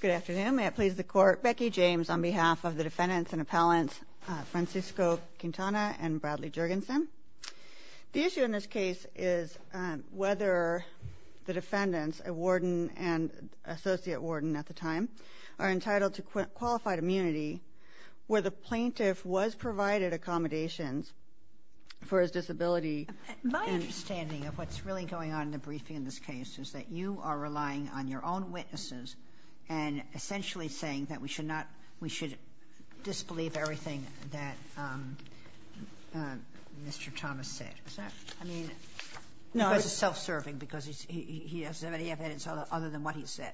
Good afternoon. May it please the court, Becky James on behalf of the defendants and appellants Francisco Quintana and Bradley Jurgensen. The issue in this case is whether the defendants, a warden and associate warden at the time, are entitled to qualified immunity where the plaintiff was provided accommodations for his disability. My understanding of what's really going on in the briefing in this case is that you are and essentially saying that we should not, we should disbelieve everything that Mr. Thomas said. Is that? I mean, he was self-serving because he doesn't have any evidence other than what he said.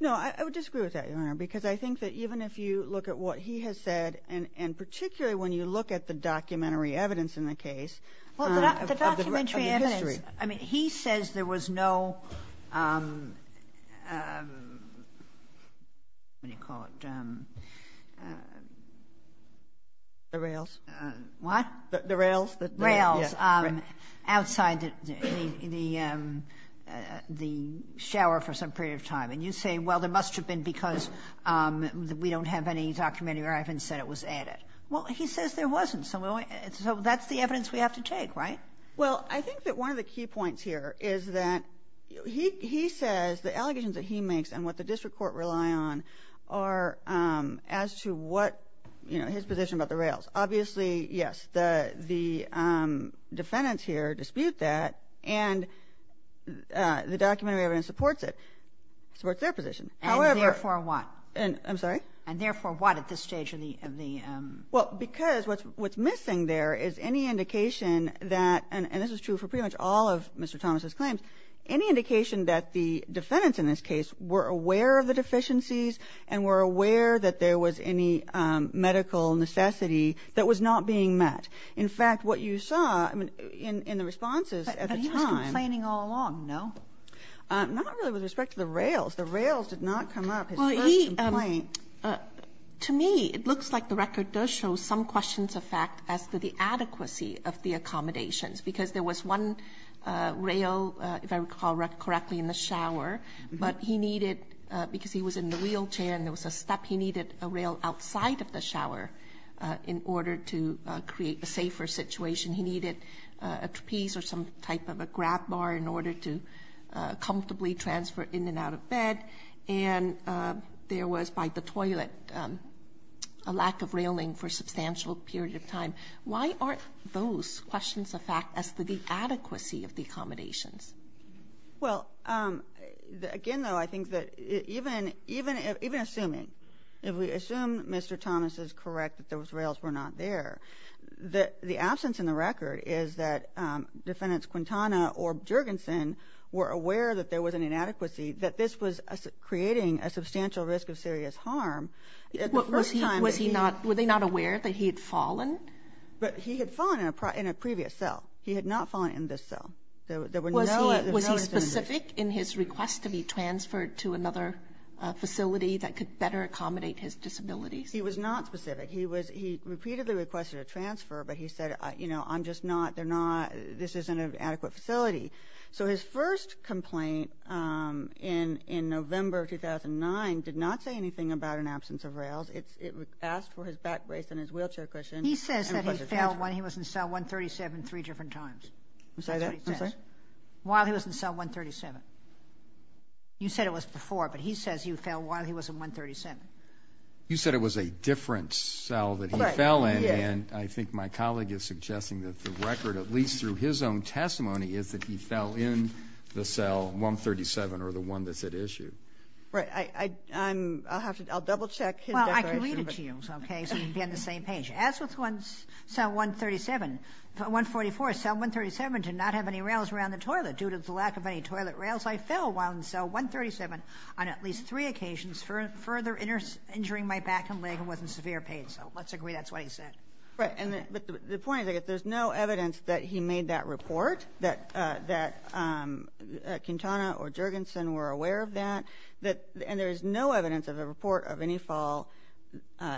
No, I would disagree with that, Your Honor, because I think that even if you look at what he has said, and particularly when you look at the documentary evidence in the case of the history. Well, the documentary evidence. I mean, he says there was no, what do you call it, the rails. What? The rails. Rails outside the shower for some period of time. And you say, well, there must have been because we don't have any documentary evidence that it was added. Well, he says there wasn't. So that's the evidence we have to take, right? Well, I think that one of the key points here is that he says the allegations that he makes and what the district court rely on are as to what, you know, his position about the rails. Obviously, yes, the defendants here dispute that, and the documentary evidence supports it. Supports their position. However... And therefore what? I'm sorry? And therefore what at this stage of the... Well, because what's missing there is any indication that, and this is true for pretty much all of Mr. Thomas' claims, any indication that the defendants in this case were aware of the deficiencies and were aware that there was any medical necessity that was not being met. In fact, what you saw in the responses at the time... But he was complaining all along, no? Not really with respect to the rails. The rails did not come up. Well, he... His first complaint... To me, it looks like the record does show some questions of fact as to the adequacy of the accommodations, because there was one rail, if I recall correctly, in the shower, but he needed, because he was in the wheelchair and there was a step, he needed a rail outside of the shower in order to create a safer situation. He needed a trapeze or some type of a grab bar in order to comfortably transfer in and out of bed, and there was, by the toilet, a lack of railing for a substantial period of time. Why aren't those questions of fact as to the adequacy of the accommodations? Well, again, though, I think that even assuming, if we assume Mr. Thomas is correct that those rails were not there, the absence in the record is that Defendants Quintana or Jergensen were aware that there was an inadequacy, that this was creating a substantial risk of serious harm. At the first time... Was he not... Were they not aware that he had fallen? But he had fallen in a previous cell. He had not fallen in this cell. There were no... Was he specific in his request to be transferred to another facility that could better accommodate his disabilities? He was not specific. He repeatedly requested a transfer, but he said, you know, I'm just not... They're not... This isn't an adequate facility. So his first complaint in November of 2009 did not say anything about an absence of rails. It asked for his back brace and his wheelchair cushion... He says that he fell when he was in cell 137 three different times. While he was in cell 137. You said it was before, but he says he fell while he was in 137. You said it was a different cell that he fell in, and I think my colleague is suggesting that the record, at least through his own testimony, is that he fell in the cell 137 or the one that's at issue. Right. I'll have to... I'll double check. Well, I can read it to you, okay, so you can be on the same page. As with cell 137, 144, cell 137 did not have any rails around the toilet. Due to the lack of any toilet rails, I fell while in cell 137 on at least three occasions, further injuring my back and leg, and was in severe pain. So let's agree that's what he said. Right. And the point is, there's no evidence that he made that report, that Quintana or Jergensen were aware of that, and there is no evidence of a report of any fall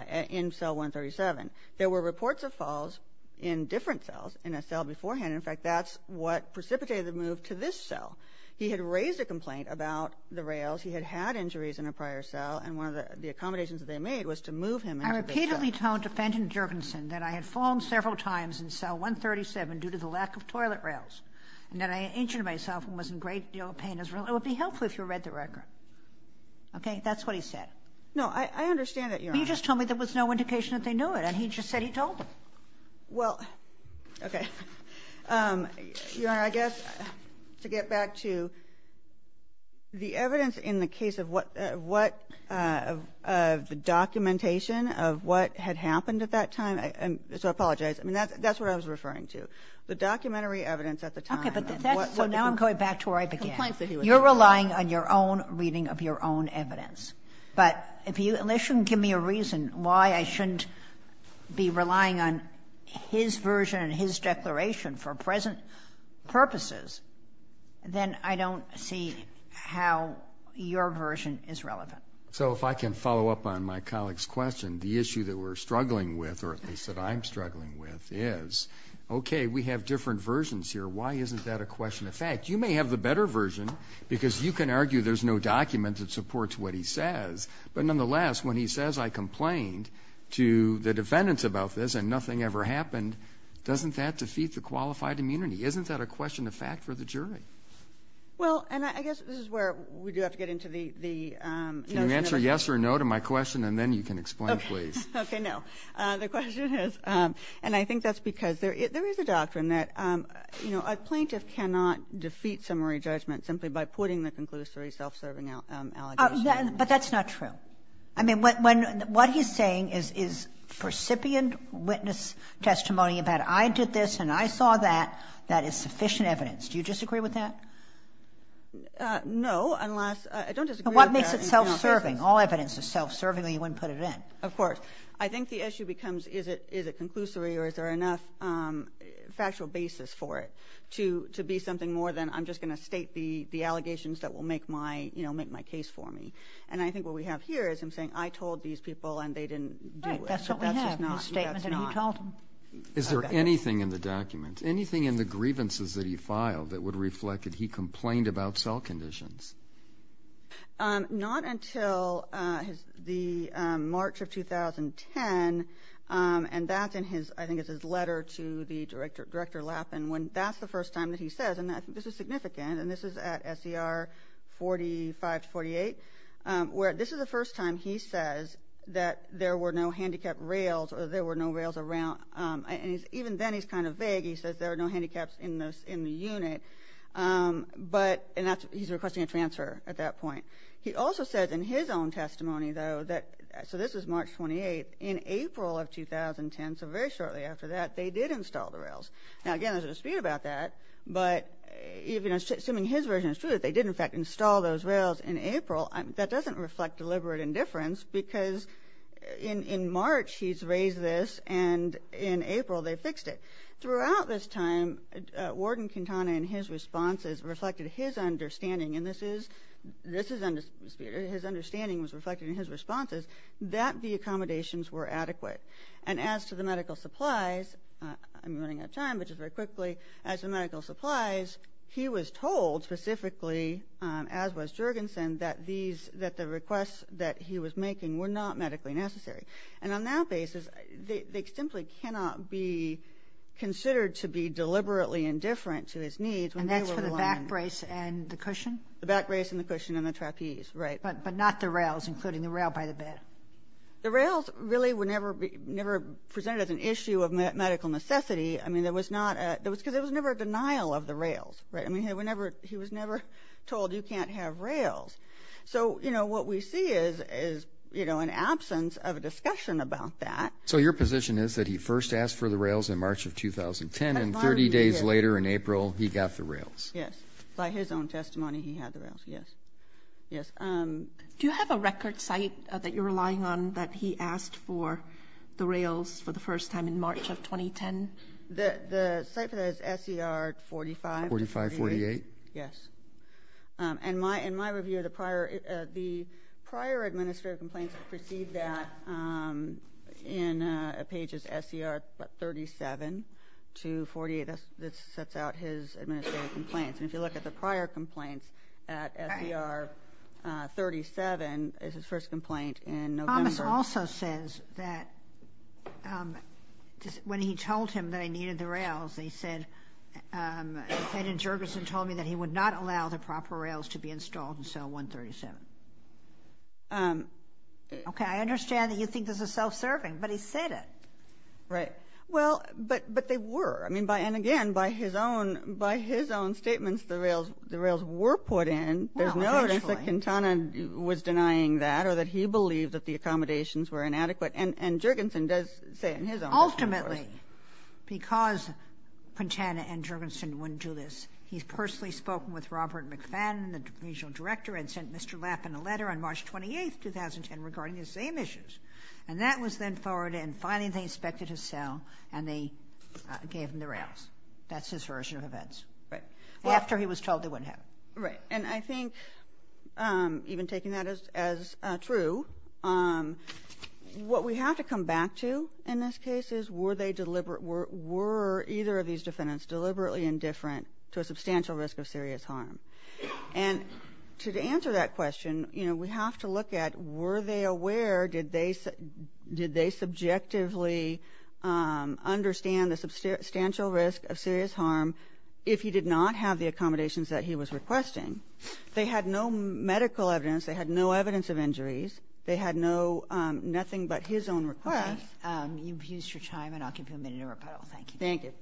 in cell 137. There were reports of falls in different cells, in a cell beforehand. And, in fact, that's what precipitated the move to this cell. He had raised a complaint about the rails. He had had injuries in a prior cell, and one of the accommodations that they made was to move him into this cell. I repeatedly told defendant Jergensen that I had fallen several times in cell 137 due to the lack of toilet rails, and that I injured myself and was in a great deal of pain as a result. It would be helpful if you read the record. Okay? That's what he said. No, I understand that, Your Honor. But you just told me there was no indication that they knew it, and he just said he told them. Well, okay. Your Honor, I guess to get back to the evidence in the case of what the documentation of what had happened at that time, so I apologize. I mean, that's what I was referring to, the documentary evidence at the time. Okay. But that's so now I'm going back to where I began. You're relying on your own reading of your own evidence. But if you at least shouldn't give me a reason why I shouldn't be relying on his version and his declaration for present purposes, then I don't see how your version is relevant. So if I can follow up on my colleague's question, the issue that we're struggling with, or at least that I'm struggling with, is, okay, we have different versions here. Why isn't that a question of fact? You may have the better version, because you can what he says. But nonetheless, when he says, I complained to the defendants about this, and nothing ever happened, doesn't that defeat the qualified immunity? Isn't that a question of fact for the jury? Well, and I guess this is where we do have to get into the notion of the jury. Can you answer yes or no to my question, and then you can explain, please. Okay. No. The question is, and I think that's because there is a doctrine that, you know, a plaintiff cannot defeat summary judgment simply by putting the conclusory self-serving allegation against them. But that's not true. I mean, what he's saying is, is recipient witness testimony about, I did this, and I saw that, that is sufficient evidence. Do you disagree with that? No, unless, I don't disagree with that in general. And what makes it self-serving? All evidence is self-serving, or you wouldn't put it in. Of course. I think the issue becomes, is it conclusory, or is there enough factual basis for it to be something more than, I'm just going to state the allegations that will make my case for me. And I think what we have here is him saying, I told these people, and they didn't do it. Right, that's what we have, his statement that he told them. Is there anything in the document, anything in the grievances that he filed, that would reflect that he complained about cell conditions? Not until the March of 2010, and that's in his, I think it's his letter to the Director Lappin, when that's the first time that he says, and I think this is March 28th, or 45 to 48, where this is the first time he says that there were no handicapped rails, or there were no rails around, and even then he's kind of vague. He says there are no handicaps in the unit, but, and he's requesting a transfer at that point. He also says in his own testimony, though, that, so this is March 28th, in April of 2010, so very shortly after that, they did install the rails. Now, again, there's a dispute about that, but even assuming his version is true, that they did, in fact, install those rails in April, that doesn't reflect deliberate indifference, because in March, he's raised this, and in April, they fixed it. Throughout this time, Warden Quintana, in his responses, reflected his understanding, and this is, this is, his understanding was reflected in his responses, that the accommodations were adequate. And as to the medical supplies, I'm running out of time, but just very quickly, as to medical supplies, he was told, specifically, as was Juergensen, that these, that the requests that he was making were not medically necessary. And on that basis, they, they simply cannot be considered to be deliberately indifferent to his needs. And that's for the back brace and the cushion? The back brace and the cushion and the trapeze, right. But, but not the rails, including the rail by the bed. The rails really were never, never presented as an issue of medical necessity. I mean, there was not a, there was, because there was never a denial of the rails, right. I mean, whenever, he was never told, you can't have rails. So, you know, what we see is, is, you know, an absence of a discussion about that. So your position is that he first asked for the rails in March of 2010, and 30 days later in April, he got the rails? Yes. By his own testimony, he had the rails, yes. Yes. Do you have a record site that you're relying on that he asked for the rails for the first time in March of 2010? The, the site for that is SCR 45. 4548. Yes. And my, in my review of the prior, the prior administrative complaints that precede that in pages SCR 37 to 48, that's, that's out his administrative complaints. And if you look at the prior complaints at SCR 37, it's his first complaint in November. This also says that, when he told him that he needed the rails, he said, Ed and Jurgensen told me that he would not allow the proper rails to be installed in cell 137. Okay, I understand that you think this is self-serving, but he said it. Right. Well, but, but they were. I mean, by, and again, by his own, by his own statements, the rails, the rails were put in. Well, eventually. Quintana was denying that, or that he believed that the accommodations were inadequate. And, and Jurgensen does say it in his own. Ultimately, because Quintana and Jurgensen wouldn't do this, he's personally spoken with Robert McFadden, the regional director, and sent Mr. Lappen a letter on March 28th, 2010, regarding the same issues. And that was then forwarded, and finally they inspected his cell, and they gave him the rails. That's his version of events. Right. After he was told they wouldn't have. Right. And I think, even taking that as, as true, what we have to come back to in this case is, were they deliberate, were, were either of these defendants deliberately indifferent to a substantial risk of serious harm? And to answer that question, you know, we have to look at, were they aware, did they, did they subjectively understand the substantial risk of serious harm if he did not have the accommodations that he was requesting? They had no medical evidence. They had no evidence of injuries. They had no, nothing but his own request. Okay. You've used your time, and I'll give you a minute to rebuttal. Thank you. Thank you.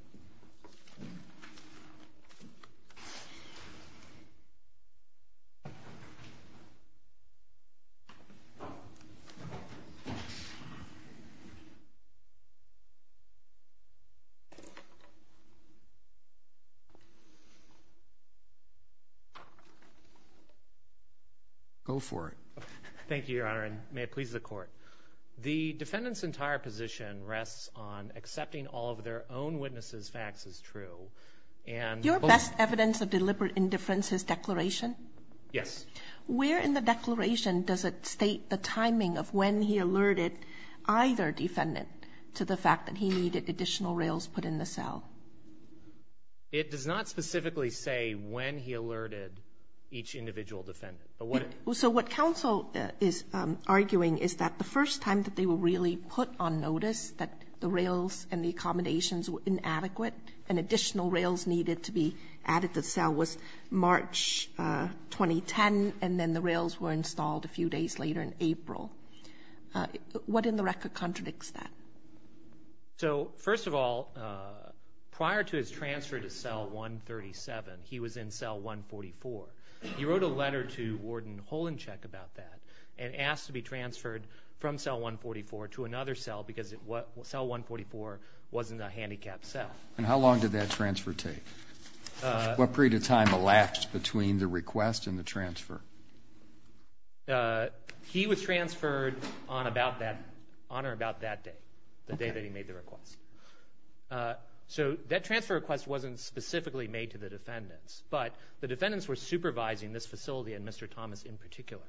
Go for it. Thank you, Your Honor, and may it please the Court. The defendant's entire position rests on accepting all of their own witnesses' facts as true, and both Your best evidence of deliberate indifference is declaration? Yes. Where in the declaration does it state the timing of when he alerted either defendant to the fact that he needed additional rails put in the cell? It does not specifically say when he alerted each individual defendant. So what counsel is arguing is that the first time that they were really put on notice, that the rails and the accommodations were inadequate, and additional rails needed to be added to the cell was March 2010, and then the rails were installed a few days later in April. What in the record contradicts that? So, first of all, prior to his transfer to cell 137, he was in cell 144. He wrote a letter to Warden Holinchek about that and asked to be transferred from cell 144 to another cell because cell 144 wasn't a handicapped cell. And how long did that transfer take? What period of time elapsed between the request and the transfer? He was transferred on or about that day, the day that he made the request. So that transfer request wasn't specifically made to the defendants, but the defendants were supervising this facility, and Mr. Thomas in particular.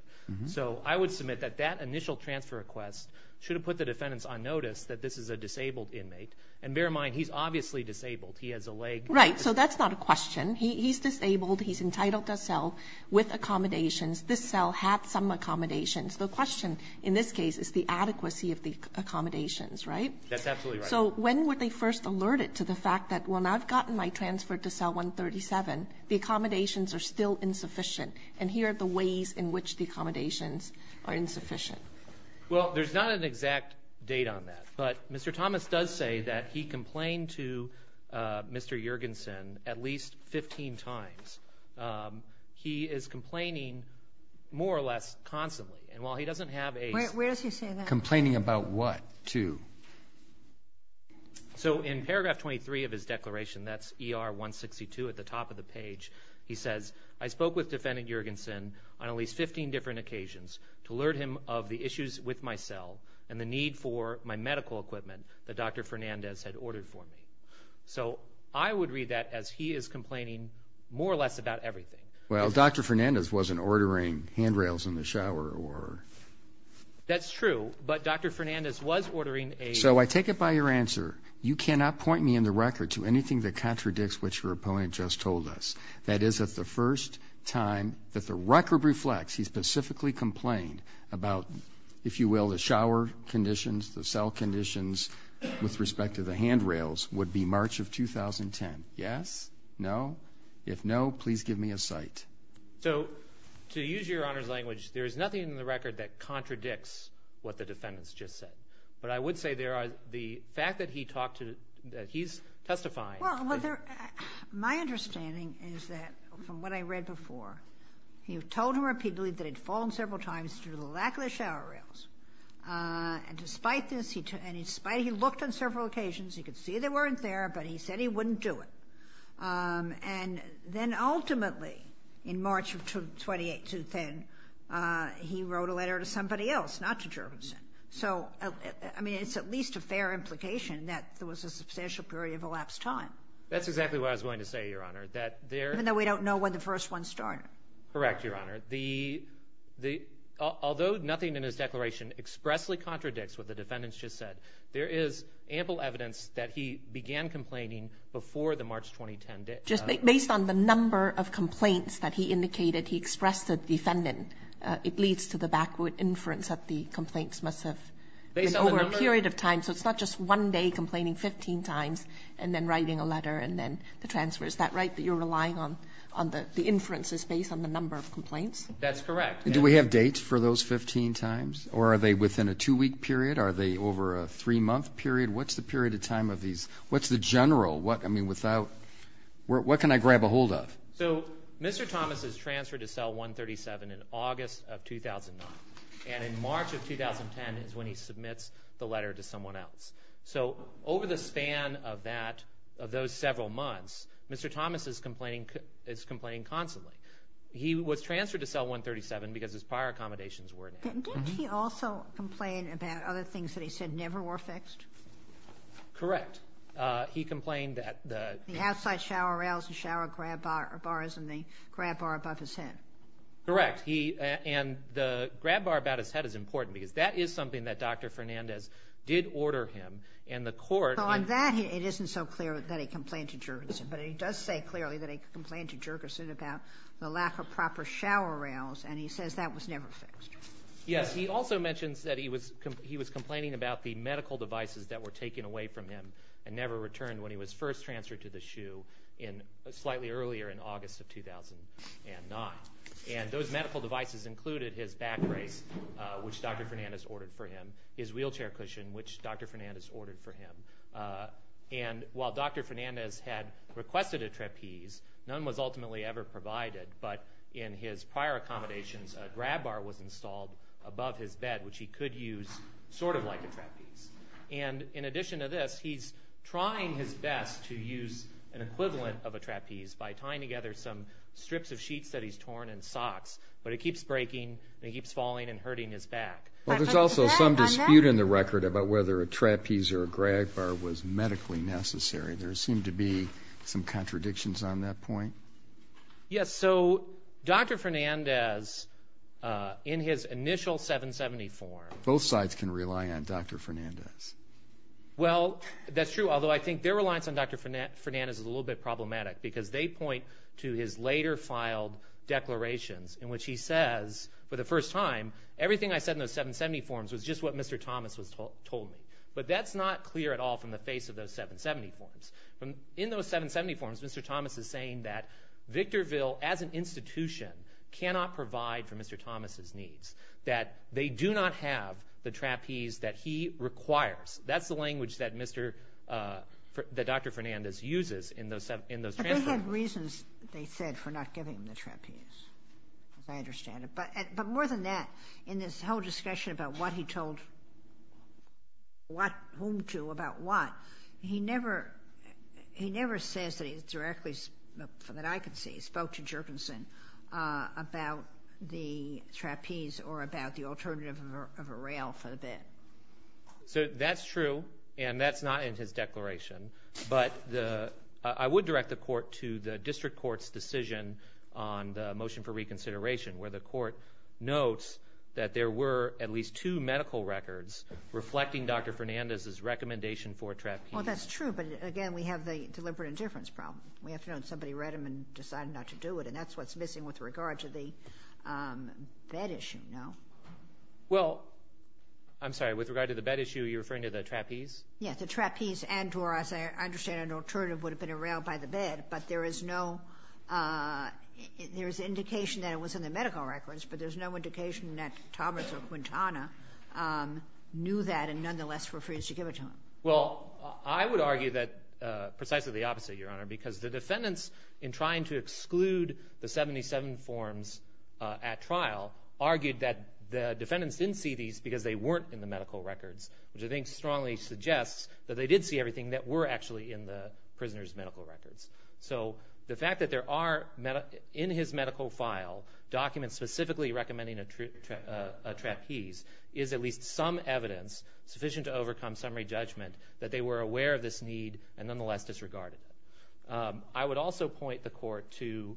So I would submit that that initial transfer request should have put the defendants on notice that this is a disabled inmate. And bear in mind, he's obviously disabled. He has a leg. Right. So that's not a question. He's disabled. He's entitled to a cell with accommodations. This cell had some accommodations. The question in this case is the adequacy of the accommodations, right? That's absolutely right. So when were they first alerted to the fact that, well, now I've gotten my transfer to cell 137, the accommodations are still insufficient. And here are the ways in which the accommodations are insufficient. Well, there's not an exact date on that. But Mr. Thomas does say that he complained to Mr. Juergensen at least 15 times. He is complaining more or less constantly. And while he doesn't have a ---- Where does he say that? Complaining about what to? So in paragraph 23 of his declaration, that's ER 162, at the top of the page, he says, I spoke with Defendant Juergensen on at least 15 different occasions to alert him of the issues with my cell and the need for my medical equipment that Dr. Fernandez had ordered for me. So I would read that as he is complaining more or less about everything. Well, Dr. Fernandez wasn't ordering handrails in the shower or ---- That's true. But Dr. Fernandez was ordering a ---- So I take it by your answer, you cannot point me in the record to anything that contradicts what your opponent just told us. That is, that the first time that the record reflects he specifically complained about, if you will, the shower conditions, the cell conditions, with respect to the handrails, would be March of 2010. Yes? No? If no, please give me a cite. So to use Your Honor's language, there is nothing in the record that contradicts what the defendants just said. But I would say there are the fact that he talked to the ---- that he's testifying. Well, my understanding is that from what I read before, you told him repeatedly that he'd fallen several times due to the lack of the shower rails. And despite this, and despite he looked on several occasions, he could see they weren't there, but he said he wouldn't do it. And then ultimately, in March of 2018, he wrote a letter to somebody else, not to Jervison. So, I mean, it's at least a fair implication that there was a substantial period of elapsed time. That's exactly what I was going to say, Your Honor, that there ---- Even though we don't know when the first one started. Correct, Your Honor. Although nothing in his declaration expressly contradicts what the defendants just said, there is ample evidence that he began complaining before the March 2010 date. Just based on the number of complaints that he indicated, he expressed a defendant. It leads to the backward inference that the complaints must have been over a period of time. So it's not just one day complaining 15 times and then writing a letter and then the transfer. Is that right, that you're relying on the inferences based on the number of complaints? That's correct. Do we have dates for those 15 times? Or are they within a two-week period? Are they over a three-month period? What's the period of time of these? What's the general? I mean, without ---- What can I grab ahold of? So Mr. Thomas is transferred to Cell 137 in August of 2009. And in March of 2010 is when he submits the letter to someone else. So over the span of that, of those several months, Mr. Thomas is complaining constantly. He was transferred to Cell 137 because his prior accommodations were in action. Didn't he also complain about other things that he said never were fixed? Correct. He complained that the ---- The outside shower rails, the shower grab bars, and the grab bar above his head. Correct. And the grab bar about his head is important because that is something that Dr. Fernandez did order him. And the court ---- So on that, it isn't so clear that he complained to Jergesen. But he does say clearly that he complained to Jergesen about the lack of proper shower rails. And he says that was never fixed. Yes. He also mentions that he was complaining about the medical devices that were taken away from him and never returned when he was first transferred to the SHU slightly earlier in August of 2009. And those medical devices included his back brace, which Dr. Fernandez ordered for him, his wheelchair cushion, which Dr. Fernandez ordered for him. And while Dr. Fernandez had requested a trapeze, none was ultimately ever provided. But in his prior accommodations, a grab bar was installed above his bed, which he could use sort of like a trapeze. And in addition to this, he's trying his best to use an equivalent of a trapeze by tying together some strips of sheets that he's torn and socks. But it keeps breaking and he keeps falling and hurting his back. Well, there's also some dispute in the record about whether a trapeze or a grab bar was medically necessary. There seem to be some contradictions on that point. Yes, so Dr. Fernandez, in his initial 770 form... Both sides can rely on Dr. Fernandez. Well, that's true, although I think their reliance on Dr. Fernandez is a little bit problematic because they point to his later filed declarations in which he says, for the first time, everything I said in those 770 forms was just what Mr. Thomas told me. But that's not clear at all from the face of those 770 forms. In those 770 forms, Mr. Thomas is saying that Victorville, as an institution, cannot provide for Mr. Thomas' needs, that they do not have the trapeze that he requires. That's the language that Dr. Fernandez uses in those transfers. But they had reasons, they said, for not giving him the trapeze, as I understand it. But more than that, in this whole discussion about what he told whom to about what, he never says directly that I can see. He spoke to Jerkinson about the trapeze or about the alternative of a rail for the bed. So that's true, and that's not in his declaration. But I would direct the court to the district court's decision on the motion for reconsideration, where the court notes that there were at least two medical records reflecting Dr. Fernandez's recommendation for a trapeze. Well, that's true, but, again, we have the deliberate indifference problem. We have to know that somebody read them and decided not to do it, and that's what's missing with regard to the bed issue, no? Well, I'm sorry, with regard to the bed issue, are you referring to the trapeze? Yes, the trapeze and or, as I understand it, an alternative would have been a rail by the bed, but there is no indication that it was in the medical records, but there's no indication that Thomas or Quintana knew that and nonetheless refused to give it to him. Well, I would argue that precisely the opposite, Your Honor, because the defendants, in trying to exclude the 77 forms at trial, argued that the defendants didn't see these because they weren't in the medical records, which I think strongly suggests that they did see everything that were actually in the prisoner's medical records. So the fact that there are, in his medical file, documents specifically recommending a trapeze is at least some evidence sufficient to overcome summary judgment that they were aware of this need and nonetheless disregarded it. I would also point the Court to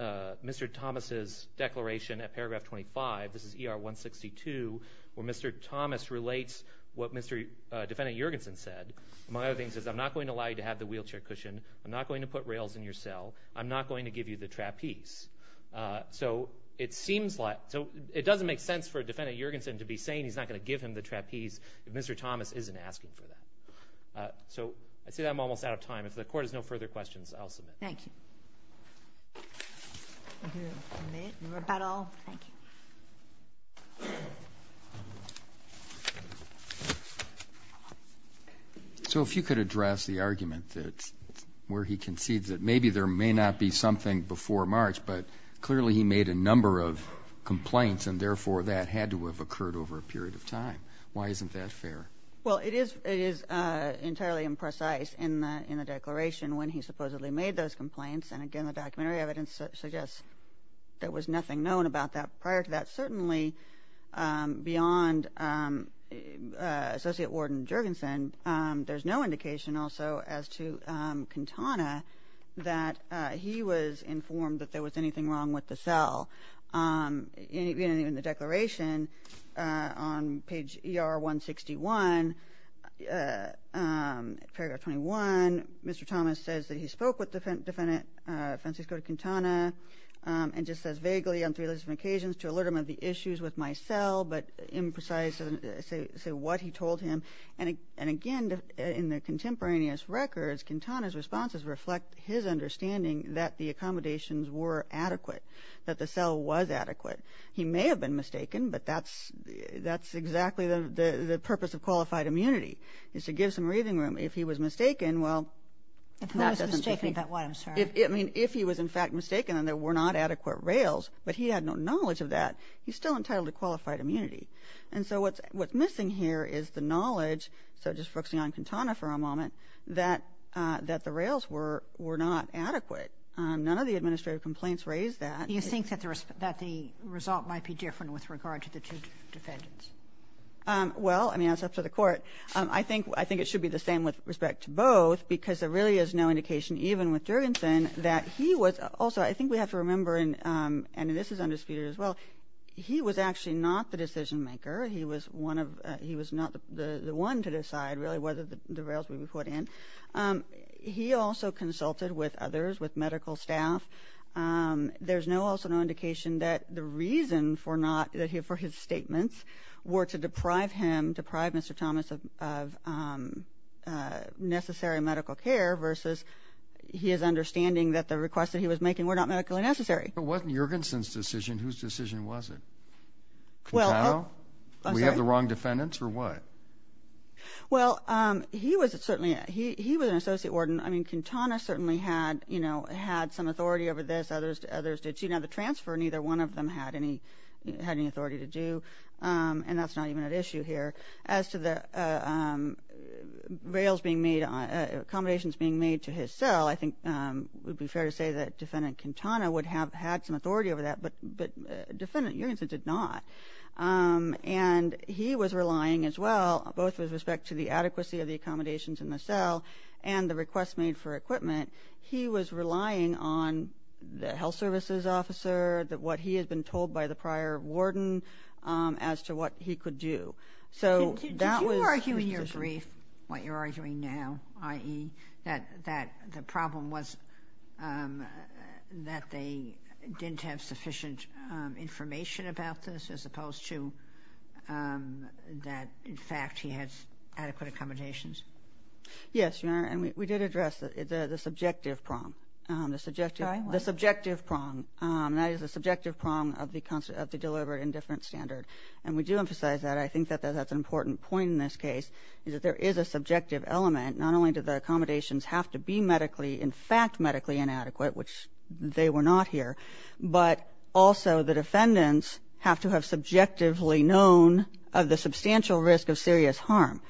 Mr. Thomas's declaration at paragraph 25. This is ER 162, where Mr. Thomas relates what Mr. Defendant Juergensen said. Among other things, he says, I'm not going to allow you to have the wheelchair cushion. I'm not going to put rails in your cell. I'm not going to give you the trapeze. So it doesn't make sense for Defendant Juergensen to be saying he's not going to give him the trapeze if Mr. Thomas isn't asking for that. So I'd say I'm almost out of time. If the Court has no further questions, I'll submit. Thank you. Thank you. You made your rebuttal. Thank you. So if you could address the argument where he concedes that maybe there may not be something before March, but clearly he made a number of complaints and therefore that had to have occurred over a period of time. Why isn't that fair? Well, it is entirely imprecise in the declaration when he supposedly made those complaints. And again, the documentary evidence suggests there was nothing known about that prior to that. Certainly beyond Associate Warden Juergensen, there's no indication also as to Cantana that he was informed that there was anything wrong with the cell. In the declaration on page ER-161, paragraph 21, Mr. Thomas says that he spoke with Defendant Francisco Cantana and just says vaguely on three occasions to alert him of the issues with my cell, but imprecise to say what he told him. And again, in the contemporaneous records, Cantana's responses reflect his understanding that the accommodations were adequate, that the cell was adequate. He may have been mistaken, but that's exactly the purpose of qualified immunity, is to give some breathing room. If he was mistaken, well, that doesn't mean... If he was mistaken about what, I'm sorry? I mean, if he was in fact mistaken and there were not adequate rails, but he had no knowledge of that, he's still entitled to qualified immunity. And so what's missing here is the knowledge, so just focusing on Cantana for a moment, that the rails were not adequate. None of the administrative complaints raise that. You think that the result might be different with regard to the two defendants? Well, I mean, that's up to the court. I think it should be the same with respect to both because there really is no indication even with Jurgensen that he was... Also, I think we have to remember, and this is undisputed as well, he was actually not the decision-maker. He was one of... He was not the one to decide really whether the rails would be put in. He also consulted with others, with medical staff. There's also no indication that the reason for his statements were to deprive him, deprive Mr. Thomas of necessary medical care versus his understanding that the requests that he was making were not medically necessary. But it wasn't Jurgensen's decision. Whose decision was it? Cantana? We have the wrong defendants or what? Well, he was certainly... He was an associate warden. I mean, Cantana certainly had some authority over this. Others didn't. Now, the transfer, neither one of them had any authority to do, and that's not even an issue here. As to the rails being made, accommodations being made to his cell, I think it would be fair to say that Defendant Cantana would have had some authority over that, but Defendant Jurgensen did not. And he was relying as well, both with respect to the adequacy of the accommodations in the cell and the requests made for equipment, he was relying on the health services officer, what he had been told by the prior warden as to what he could do. So that was... Did you argue in your brief what you're arguing now, i.e., that the problem was that they didn't have sufficient information about this as opposed to that, in fact, he had adequate accommodations? Yes, Your Honor, and we did address the subjective prong. The subjective prong, and that is the subjective prong of the deliberate indifference standard. And we do emphasize that. I think that that's an important point in this case, is that there is a subjective element, not only do the accommodations have to be medically, in fact, medically inadequate, which they were not here, but also the defendants have to have subjectively known of the substantial risk of serious harm.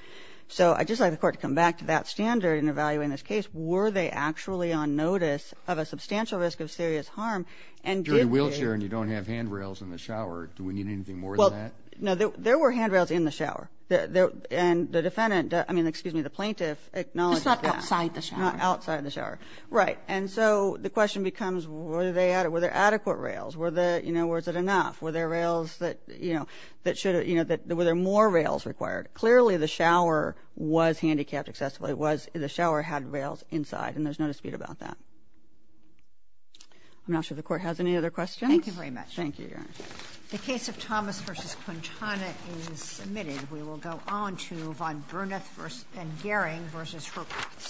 So I'd just like the Court to come back to that standard in evaluating this case. Were they actually on notice of a substantial risk of serious harm and did they... If you're in a wheelchair and you don't have handrails in the shower, do we need anything more than that? No, there were handrails in the shower. And the defendant, I mean, excuse me, the plaintiff acknowledges that. It's not outside the shower. Not outside the shower. Right. And so the question becomes were there adequate rails? Were there, you know, was it enough? Were there rails that, you know, that should have, you know, were there more rails required? Clearly, the shower was handicapped excessively. It was the shower had rails inside, and there's no dispute about that. I'm not sure the Court has any other questions. Thank you very much. Thank you, Your Honor. The case of Thomas v. Quintana is submitted. We will go on to von Bruneth v. and Gehring v. Hurwitz.